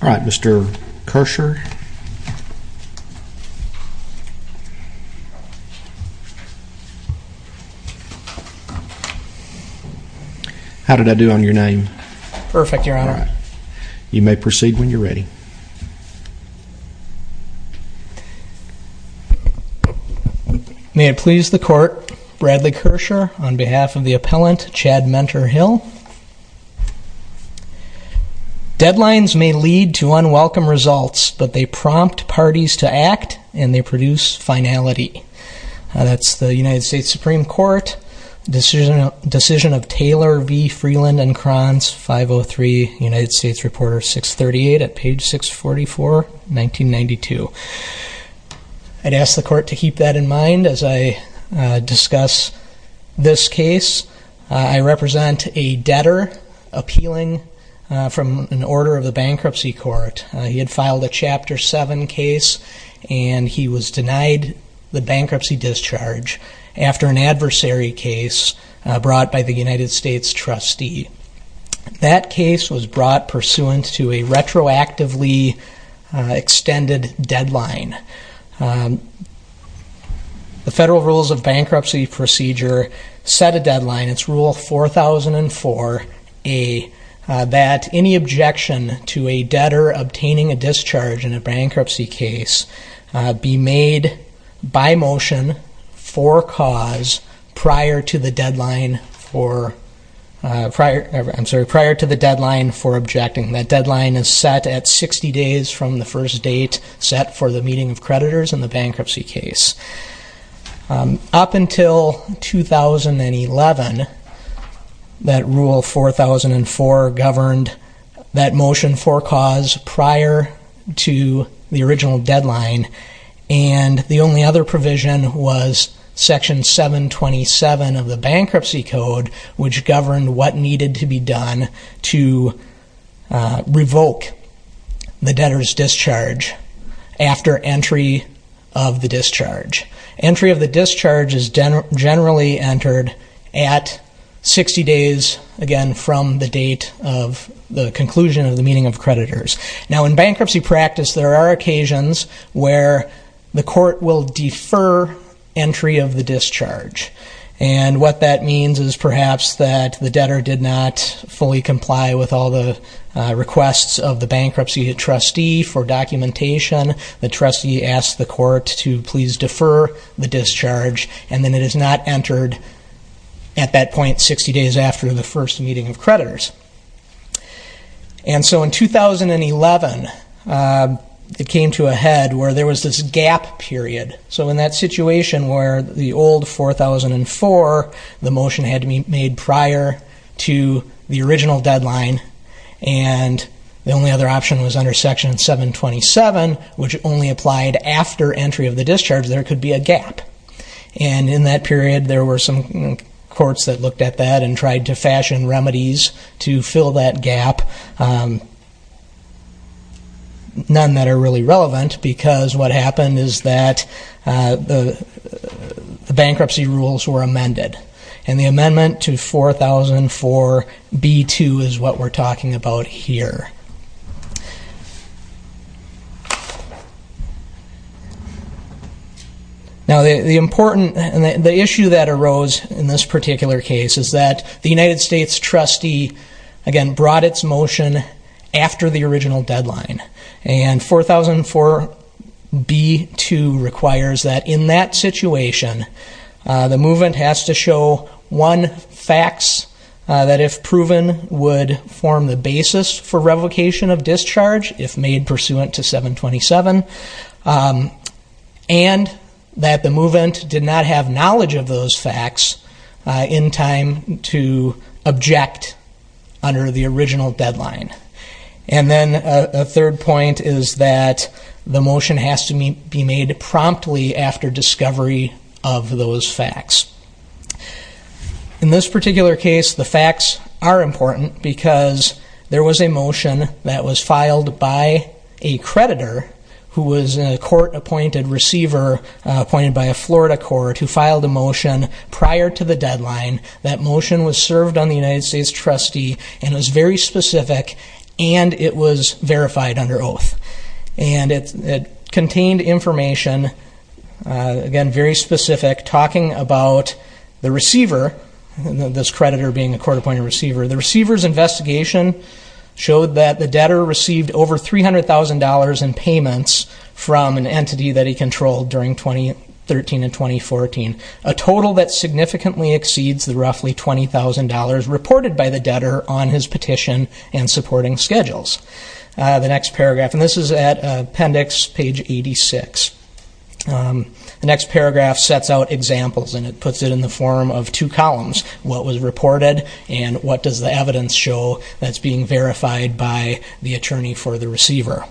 Mr. Kershaw, you may proceed when you are ready. May it please the Court, Bradley Kershaw on behalf of the Appellant Chad Menter Hill. Deadlines may lead to unwelcome results, but they prompt parties to act and they produce finality. That's the United States Supreme Court decision of Taylor v. Freeland and Kranz 503, United States Reporter 638 at page 644, 1992. I'd ask the Court to keep that in mind as I discuss this case. I represent a debtor appealing from an order of the Bankruptcy Court. He had filed a Chapter 7 case and he was denied the bankruptcy discharge after an adversary case brought by the United States trustee. That case was brought pursuant to a retroactively extended deadline. The Federal Rules of Bankruptcy Procedure set a deadline, it's Rule 4004A, that any objection to a debtor obtaining a discharge in a bankruptcy case be made by motion for cause prior to the deadline for objecting. That deadline is set at 60 days from the first date set for the meeting of creditors in the bankruptcy case. Up until 2011, that Rule 4004 governed that motion for cause prior to the original deadline and the only other provision was Section 727 of the Bankruptcy Code, which governed what needed to be done to revoke the debtor's discharge after entry of the discharge. Entry of the discharge is generally entered at 60 days, again, from the date of the conclusion of the meeting of creditors. Now, in bankruptcy practice, there are occasions where the court will defer entry of the discharge. And what that means is perhaps that the debtor did not fully comply with all the requests of the bankruptcy trustee for documentation. The trustee asked the court to please defer the discharge and then it is not entered at that point 60 days after the first meeting of creditors. And so in 2011, it came to a head where there was this gap period. So in that situation where the old 4004, the motion had to be made prior to the original deadline and the only other option was under Section 727, which only applied after entry of the discharge, there could be a gap. And in that period, there were some courts that looked at that and tried to fashion remedies to fill that gap. None that are really relevant because what happened is that the bankruptcy rules were amended. And the amendment to 4004b2 is what we're talking about here. Now, the important, the issue that arose in this particular case is that the United States trustee, again, brought its motion after the original deadline. And 4004b2 requires that in that situation, the movement has to show one fax that if proven would form the basis for revocation. of discharge if made pursuant to 727 and that the movement did not have knowledge of those fax in time to object under the original deadline. And then a third point is that the motion has to be made promptly after discovery of those fax. In this particular case, the fax are important because there was a motion that was filed by a creditor who was a court-appointed receiver appointed by a Florida court who filed a motion prior to the deadline. That motion was served on the United States trustee and was very specific and it was verified under oath. And it contained information, again, very specific, talking about the receiver, this creditor being a court-appointed receiver. The receiver's investigation showed that the debtor received over $300,000 in payments from an entity that he controlled during 2013 and 2014. A total that significantly exceeds the roughly $20,000 reported by the debtor on his petition and supporting schedules. The next paragraph, and this is at appendix page 86. The next paragraph sets out examples and it puts it in the form of two columns. What was reported and what does the evidence show that's being verified by the attorney for the receiver.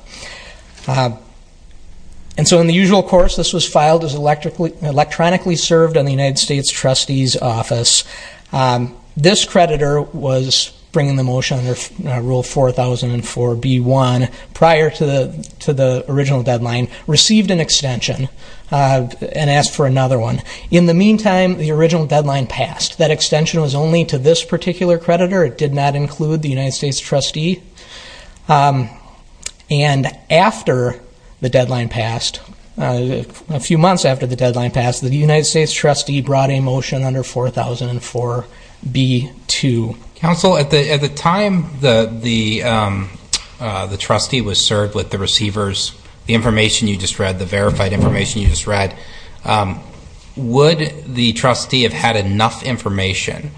And so in the usual course, this was filed as electronically served on the United States trustee's office. This creditor was bringing the motion under rule 4004B1 prior to the original deadline, received an extension, and asked for another one. In the meantime, the original deadline passed. That extension was only to this particular creditor, it did not include the United States trustee. And after the deadline passed, a few months after the deadline passed, the United States trustee brought a motion under 4004B2. Counsel, at the time the trustee was served with the receivers, the information you just read, the verified information you just read, would the trustee have had enough information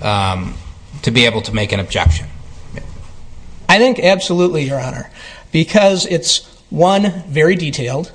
to be able to make an objection? I think absolutely, your honor. Because it's one, very detailed.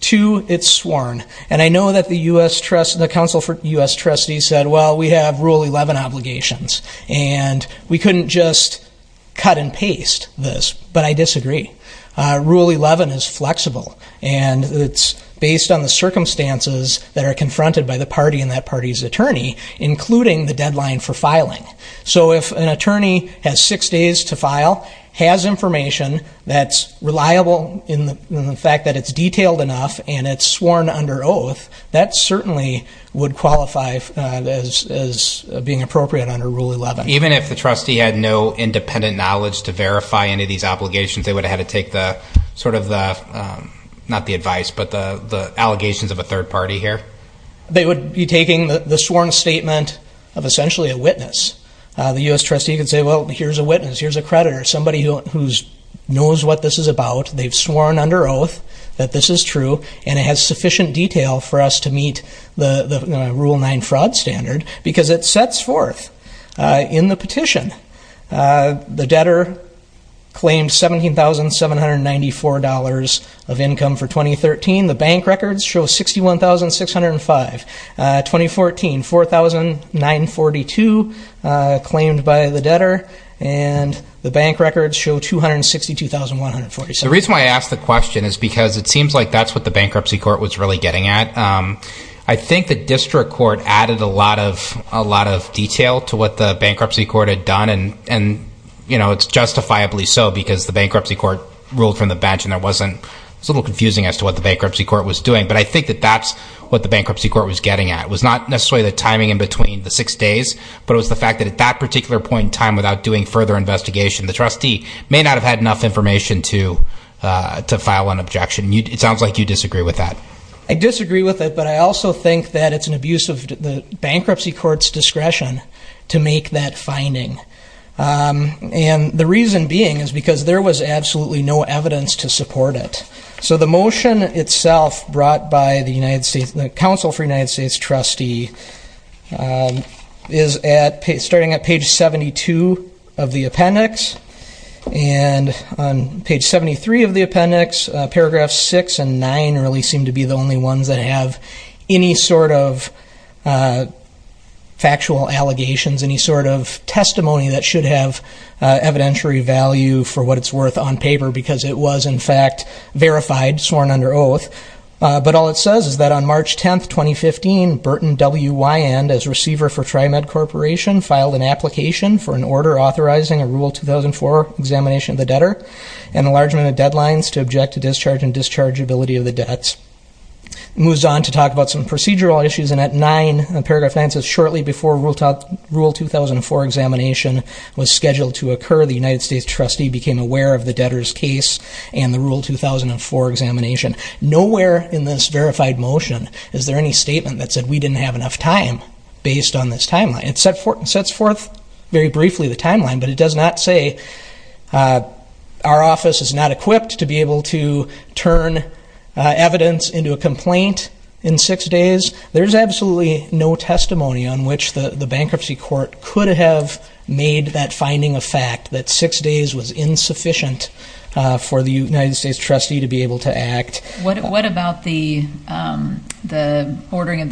Two, it's sworn. And I know that the U.S. trustee, the counsel for the U.S. trustee said, well, we have rule 11 obligations. And we couldn't just cut and paste this, but I disagree. Rule 11 is flexible. And it's based on the circumstances that are confronted by the party and that party's attorney, including the deadline for filing. So if an attorney has six days to file, has information that's reliable in the fact that it's detailed enough, and it's sworn under oath, that certainly would qualify as being appropriate under rule 11. Even if the trustee had no independent knowledge to verify any of these obligations, they would have had to take the, sort of the, not the advice, but the allegations of a third party here? They would be taking the sworn statement of essentially a witness. The U.S. trustee could say, well, here's a witness. Here's a creditor. Somebody who knows what this is about. They've sworn under oath that this is true. And it has sufficient detail for us to meet the rule 9 fraud standard. Because it sets forth in the petition. The debtor claimed $17,794 of income for 2013. The bank records show $61,605. 2014, $4,942 claimed by the debtor. And the bank records show $262,147. The reason why I ask the question is because it seems like that's what the bankruptcy court was really getting at. I think the district court added a lot of detail to what the bankruptcy court had done. And, you know, it's justifiably so. Because the bankruptcy court ruled from the bench. And there wasn't, it was a little confusing as to what the bankruptcy court was doing. But I think that that's what the bankruptcy court was getting at. It was not necessarily the timing in between the six days. But it was the fact that at that particular point in time, without doing further investigation, the trustee may not have had enough information to file an objection. It sounds like you disagree with that. I disagree with it. But I also think that it's an abuse of the bankruptcy court's discretion to make that finding. And the reason being is because there was absolutely no evidence to support it. So the motion itself brought by the Council for the United States Trustee is starting at page 72 of the appendix. And on page 73 of the appendix, paragraphs 6 and 9 really seem to be the only ones that have any sort of factual allegations, any sort of testimony that should have evidentiary value for what it's worth on paper. Because it was, in fact, verified, sworn under oath. But all it says is that on March 10, 2015, Burton W. Wyand, as receiver for TriMed Corporation, filed an application for an order authorizing a Rule 2004 examination of the debtor and enlargement of deadlines to object to discharge and dischargeability of the debts. It moves on to talk about some procedural issues. And at 9, paragraph 9 says, Shortly before Rule 2004 examination was scheduled to occur, the United States Trustee became aware of the debtor's case and the Rule 2004 examination. Nowhere in this verified motion is there any statement that said, we didn't have enough time based on this timeline. It sets forth very briefly the timeline, but it does not say our office is not equipped to be able to turn evidence into a complaint in six days. There's absolutely no testimony on which the bankruptcy court could have made that finding a fact, that six days was insufficient for the United States Trustee to be able to act. What about the ordering of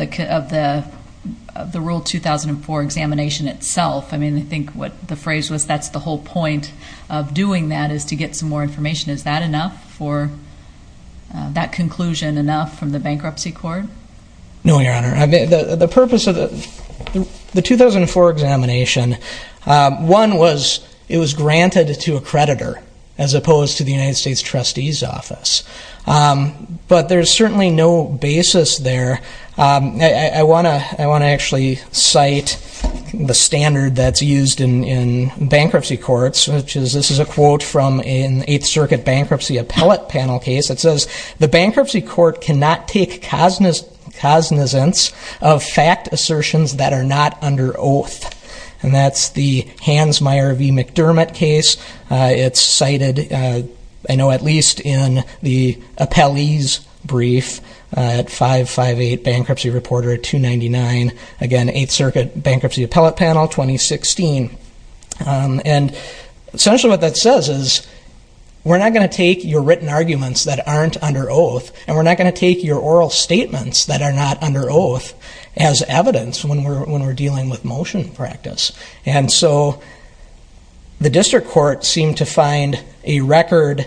the Rule 2004 examination itself? I mean, I think what the phrase was, that's the whole point of doing that is to get some more information. Is that enough for that conclusion, enough from the bankruptcy court? No, Your Honor. The purpose of the 2004 examination, one was it was granted to a creditor as opposed to the United States Trustee's office. But there's certainly no basis there. I want to actually cite the standard that's used in bankruptcy courts. This is a quote from an Eighth Circuit bankruptcy appellate panel case. It says, the bankruptcy court cannot take cosinescence of fact assertions that are not under oath. And that's the Hansmeier v. McDermott case. It's cited, I know, at least in the appellee's brief at 558 Bankruptcy Reporter 299. Again, Eighth Circuit bankruptcy appellate panel 2016. And essentially what that says is, we're not going to take your written arguments that aren't under oath, and we're not going to take your oral statements that are not under oath as evidence when we're dealing with motion practice. And so the district court seemed to find a record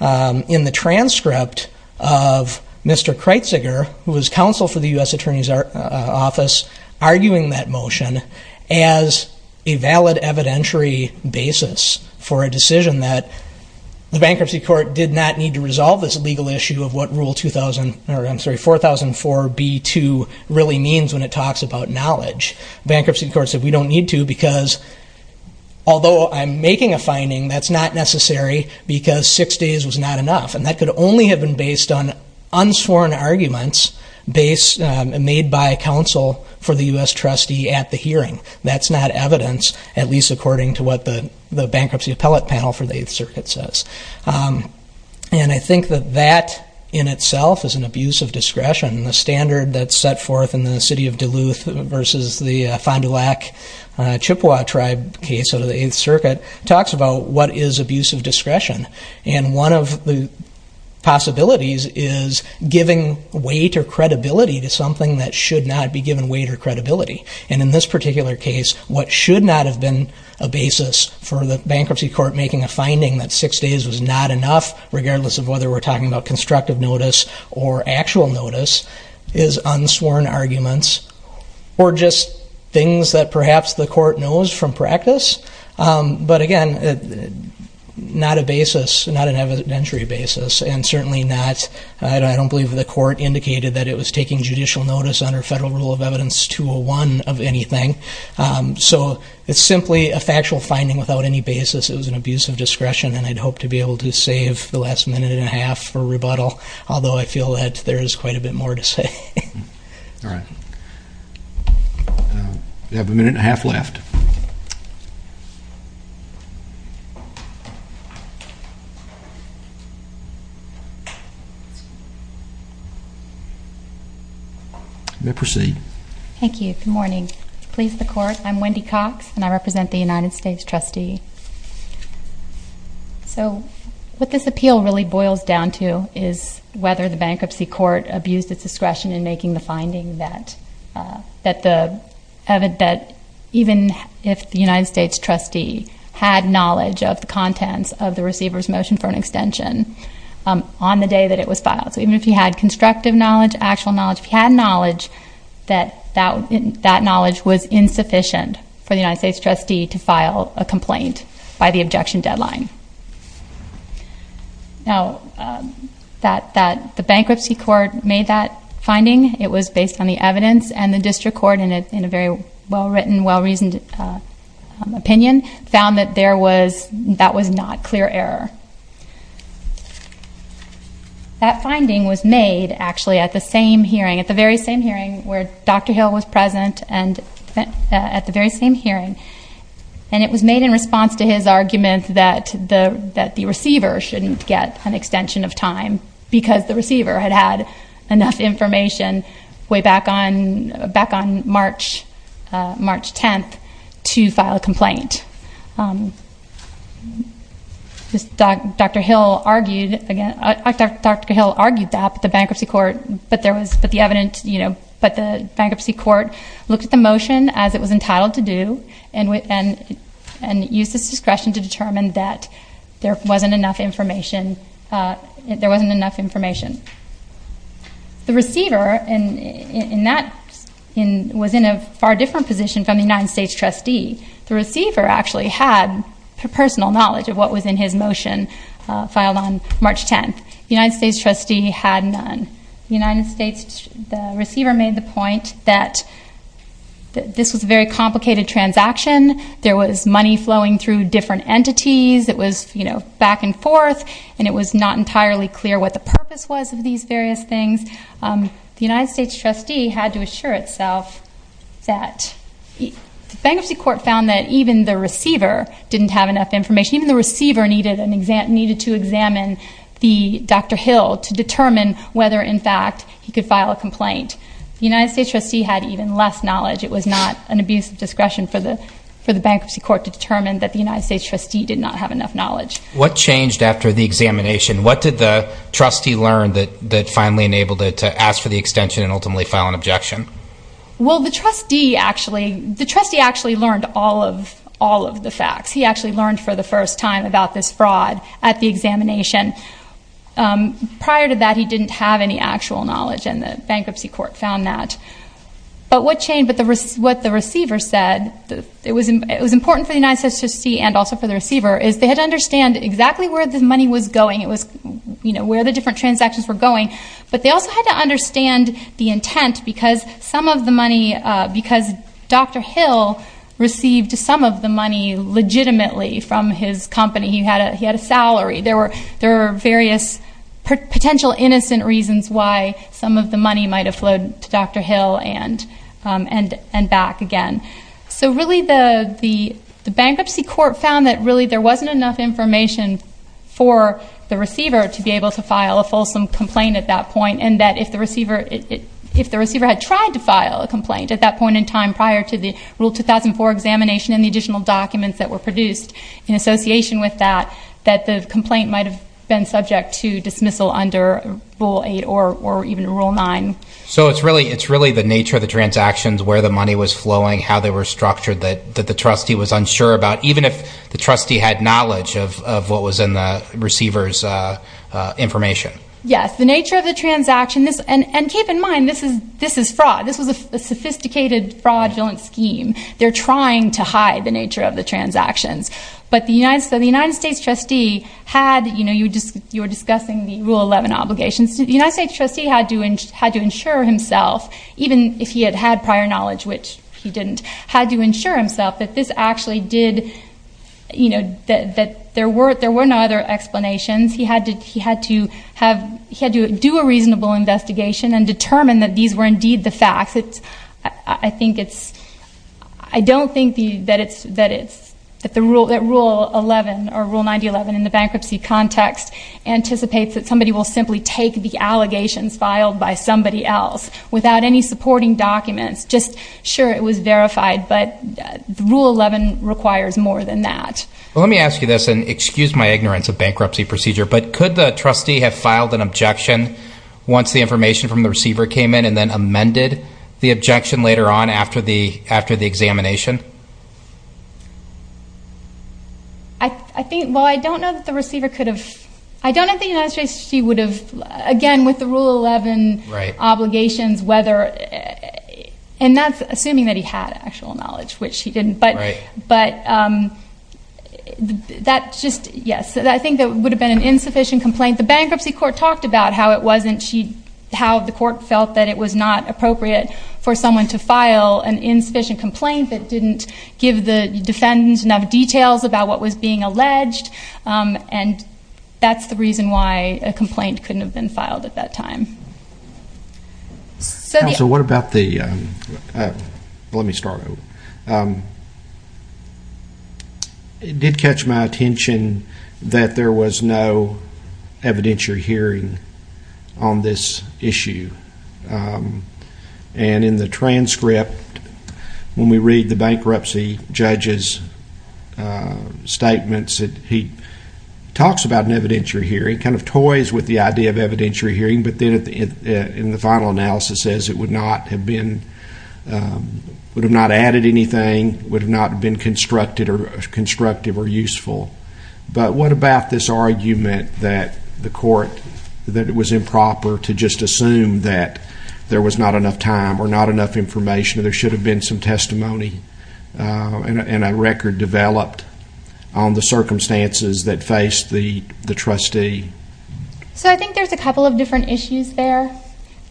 in the transcript of Mr. Kreitziger, who was counsel for the U.S. Attorney's Office, arguing that motion as a valid evidentiary basis for a decision that the bankruptcy court did not need to resolve this legal issue of what Rule 2000, or I'm sorry, 4004b2 really means when it talks about knowledge. Bankruptcy court said we don't need to because, although I'm making a finding, that's not necessary because six days was not enough. And that could only have been based on unsworn arguments made by counsel for the U.S. trustee at the hearing. That's not evidence, at least according to what the bankruptcy appellate panel for the Eighth Circuit says. And I think that that in itself is an abuse of discretion. The standard that's set forth in the city of Duluth versus the Fond du Lac Chippewa tribe case under the Eighth Circuit talks about what is abuse of discretion. And one of the possibilities is giving weight or credibility to something that should not be given weight or credibility. And in this particular case, what should not have been a basis for the bankruptcy court making a finding that six days was not enough, regardless of whether we're talking about constructive notice or actual notice, is unsworn arguments or just things that perhaps the court knows from practice. But again, not a basis, not an evidentiary basis, and certainly not, I don't believe the court indicated that it was taking judicial notice under Federal Rule of Evidence 201 of anything. So it's simply a factual finding without any basis. It was an abuse of discretion, and I'd hope to be able to save the last minute and a half for rebuttal, although I feel that there is quite a bit more to say. All right. We have a minute and a half left. Thank you. Good morning. I'm Wendy Cox, and I represent the United States trustee. So what this appeal really boils down to is whether the bankruptcy court abused its discretion in making the finding that even if the United States trustee had knowledge of the contents of the receiver's motion for an extension on the day that it was filed, so even if he had constructive knowledge, actual knowledge, if he had knowledge, that that knowledge was insufficient for the United States trustee to file a complaint by the objection deadline. Now, the bankruptcy court made that finding. It was based on the evidence, and the district court, in a very well-written, well-reasoned opinion, found that that was not clear error. That finding was made, actually, at the same hearing, at the very same hearing where Dr. Hill was present and at the very same hearing, and it was made in response to his argument that the receiver shouldn't get an extension of time because the receiver had had enough information way back on March 10th to file a complaint. Dr. Hill argued that, but the bankruptcy court looked at the motion as it was entitled to do and used its discretion to determine that there wasn't enough information. The receiver was in a far different position from the United States trustee. The receiver actually had personal knowledge of what was in his motion filed on March 10th. The United States trustee had none. The receiver made the point that this was a very complicated transaction. There was money flowing through different entities. It was back and forth, and it was not entirely clear what the purpose was of these various things. The United States trustee had to assure itself that the bankruptcy court found that even the receiver didn't have enough information. Even the receiver needed to examine Dr. Hill to determine whether, in fact, he could file a complaint. The United States trustee had even less knowledge. It was not an abuse of discretion for the bankruptcy court to determine that the United States trustee did not have enough knowledge. What changed after the examination? What did the trustee learn that finally enabled it to ask for the extension and ultimately file an objection? Well, the trustee actually learned all of the facts. He actually learned for the first time about this fraud at the examination. Prior to that, he didn't have any actual knowledge, and the bankruptcy court found that. But what the receiver said, it was important for the United States trustee and also for the receiver, is they had to understand exactly where the money was going, where the different transactions were going. But they also had to understand the intent because Dr. Hill received some of the money legitimately from his company. He had a salary. There were various potential innocent reasons why some of the money might have flowed to Dr. Hill and back again. So really the bankruptcy court found that really there wasn't enough information for the receiver to be able to file a fulsome complaint at that point. And that if the receiver had tried to file a complaint at that point in time prior to the Rule 2004 examination and the additional documents that were produced in association with that, that the complaint might have been subject to dismissal under Rule 8 or even Rule 9. So it's really the nature of the transactions, where the money was flowing, how they were structured, that the trustee was unsure about, even if the trustee had knowledge of what was in the receiver's information. Yes, the nature of the transaction. And keep in mind, this is fraud. This was a sophisticated fraudulent scheme. They're trying to hide the nature of the transactions. But the United States trustee had, you know, you were discussing the Rule 11 obligations. The United States trustee had to ensure himself, even if he had had prior knowledge, which he didn't, had to ensure himself that this actually did, you know, that there were no other explanations. He had to do a reasonable investigation and determine that these were indeed the facts. I think it's, I don't think that it's, that the Rule 11 or Rule 9011 in the bankruptcy context anticipates that somebody will simply take the allegations filed by somebody else without any supporting documents. Just, sure, it was verified, but Rule 11 requires more than that. Well, let me ask you this, and excuse my ignorance of bankruptcy procedure, but could the trustee have filed an objection once the information from the receiver came in and then amended the objection later on after the examination? I think, well, I don't know that the receiver could have. I don't think the United States trustee would have, again, with the Rule 11 obligations, whether, and that's assuming that he had actual knowledge, which he didn't. Right. But that just, yes, I think that would have been an insufficient complaint. The bankruptcy court talked about how it wasn't, how the court felt that it was not appropriate for someone to file an insufficient complaint that didn't give the defendants enough details about what was being alleged, and that's the reason why a complaint couldn't have been filed at that time. Counsel, what about the, let me start over. It did catch my attention that there was no evidentiary hearing on this issue, and in the transcript, when we read the bankruptcy judge's statements, he talks about an evidentiary hearing, kind of toys with the idea of evidentiary hearing, but then in the final analysis says it would not have been, would have not added anything, would have not been constructive or useful. But what about this argument that the court, that it was improper to just assume that there was not enough time or not enough information, that there should have been some testimony and a record developed on the circumstances that faced the trustee? So I think there's a couple of different issues there.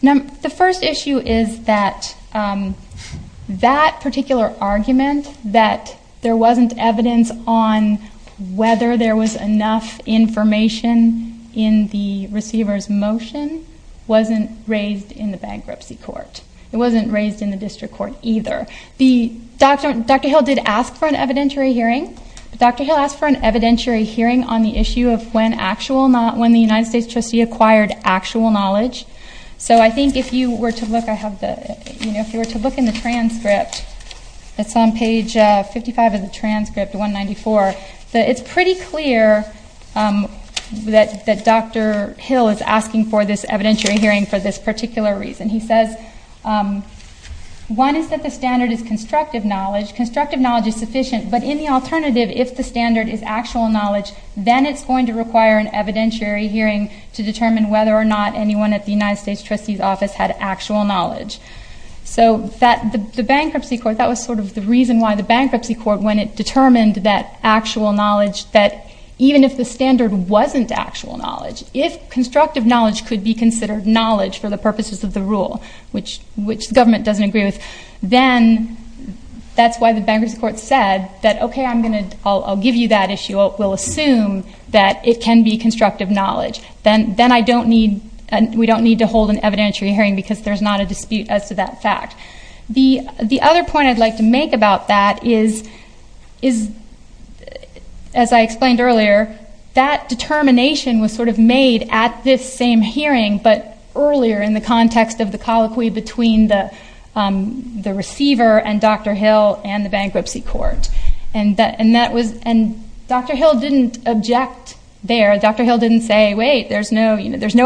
The first issue is that that particular argument that there wasn't evidence on whether there was enough information in the receiver's motion wasn't raised in the bankruptcy court. It wasn't raised in the district court either. The, Dr. Hill did ask for an evidentiary hearing. Dr. Hill asked for an evidentiary hearing on the issue of when actual, not when the United States trustee acquired actual knowledge. So I think if you were to look, I have the, you know, if you were to look in the transcript, it's on page 55 of the transcript, 194. It's pretty clear that Dr. Hill is asking for this evidentiary hearing for this particular reason. He says, one is that the standard is constructive knowledge. Constructive knowledge is sufficient, but in the alternative, if the standard is actual knowledge, then it's going to require an evidentiary hearing to determine whether or not anyone at the United States trustee's office had actual knowledge. So the bankruptcy court, that was sort of the reason why the bankruptcy court, when it determined that actual knowledge, that even if the standard wasn't actual knowledge, if constructive knowledge could be considered knowledge for the purposes of the rule, which the government doesn't agree with, then that's why the bankruptcy court said that, okay, I'm going to give you that issue. We'll assume that it can be constructive knowledge. Then I don't need, we don't need to hold an evidentiary hearing because there's not a dispute as to that fact. The other point I'd like to make about that is, as I explained earlier, that determination was sort of made at this same hearing, but earlier in the context of the colloquy between the receiver and Dr. Hill and the bankruptcy court. And Dr. Hill didn't object there. Dr. Hill didn't say, wait, there's no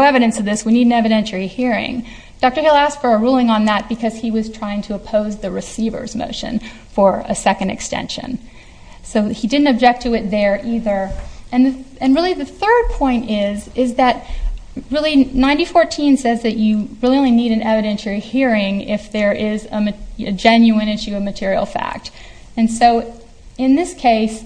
evidence of this. We need an evidentiary hearing. Dr. Hill asked for a ruling on that because he was trying to oppose the receiver's motion for a second extension. So he didn't object to it there either. And really the third point is that really 9014 says that you really only need an evidentiary hearing if there is a genuine issue of material fact. And so in this case,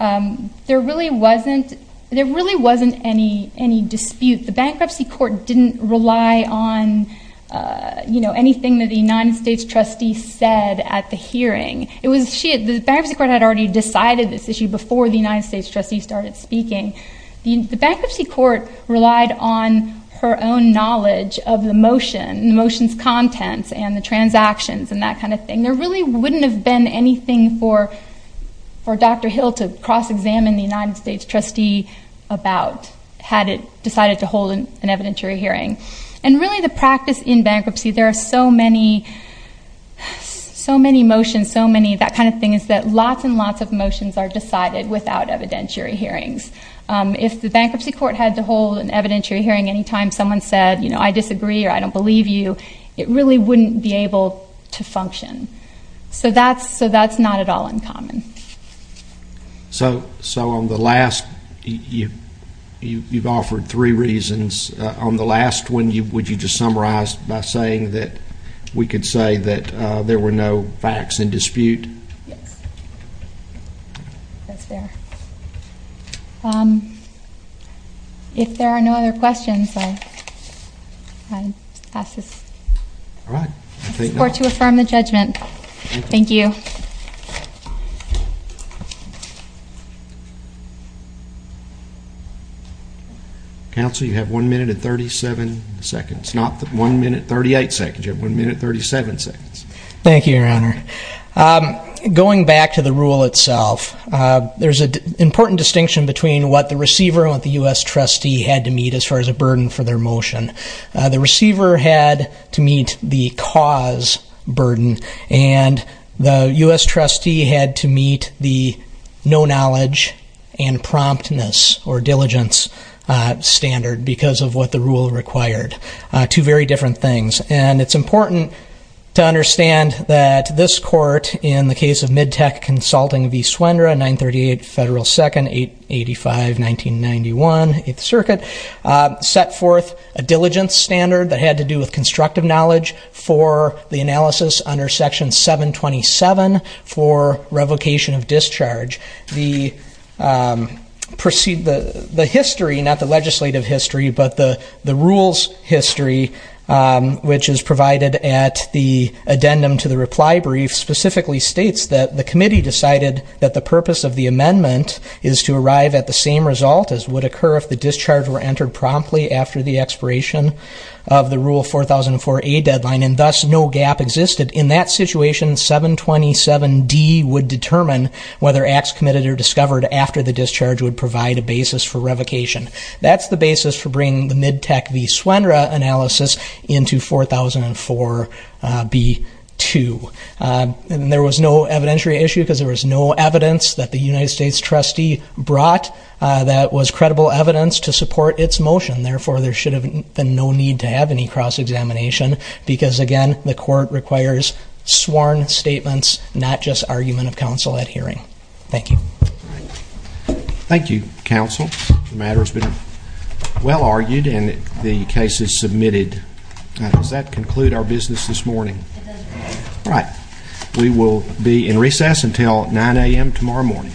there really wasn't any dispute. The bankruptcy court didn't rely on anything that the United States trustees said at the hearing. The bankruptcy court had already decided this issue before the United States trustees started speaking. The bankruptcy court relied on her own knowledge of the motion and the motion's contents and the transactions and that kind of thing. There really wouldn't have been anything for Dr. Hill to cross-examine the United States trustee about had it decided to hold an evidentiary hearing. And really the practice in bankruptcy, there are so many motions, so many that kind of thing, is that lots and lots of motions are decided without evidentiary hearings. If the bankruptcy court had to hold an evidentiary hearing any time someone said, you know, I disagree or I don't believe you, it really wouldn't be able to function. So that's not at all uncommon. So on the last, you've offered three reasons. On the last one, would you just summarize by saying that we could say that there were no facts in dispute? Yes. That's fair. If there are no other questions, I pass this. All right. I look forward to affirming the judgment. Thank you. Counsel, you have one minute and 37 seconds, not one minute 38 seconds. You have one minute 37 seconds. Thank you, Your Honor. Going back to the rule itself, there's an important distinction between what the receiver and what the U.S. trustee had to meet as far as a burden for their motion. The receiver had to meet the cause burden and the U.S. trustee had to meet the no knowledge and promptness or diligence standard because of what the rule required. Two very different things. And it's important to understand that this court, in the case of MidTech Consulting v. Suendra, 938 Federal 2nd, 885, 1991, 8th Circuit, set forth a diligence standard that had to do with constructive knowledge for the analysis under Section 727 for revocation of discharge. The history, not the legislative history, but the rules history, which is provided at the addendum to the reply brief, specifically states that the committee decided that the purpose of the amendment is to arrive at the same result as would occur if the discharge were entered promptly after the expiration of the Rule 4004A deadline and thus no gap existed. In that situation, 727D would determine whether acts committed or discovered after the discharge would provide a basis for revocation. That's the basis for bringing the MidTech v. Suendra analysis into 4004B2. And there was no evidentiary issue because there was no evidence that the United States trustee brought that was credible evidence to support its motion. Therefore, there should have been no need to have any cross-examination because, again, the court requires sworn statements, not just argument of counsel at hearing. Thank you. Thank you, counsel. The matter has been well argued and the case is submitted. Does that conclude our business this morning? It does. All right. We will be in recess until 9 a.m. tomorrow morning.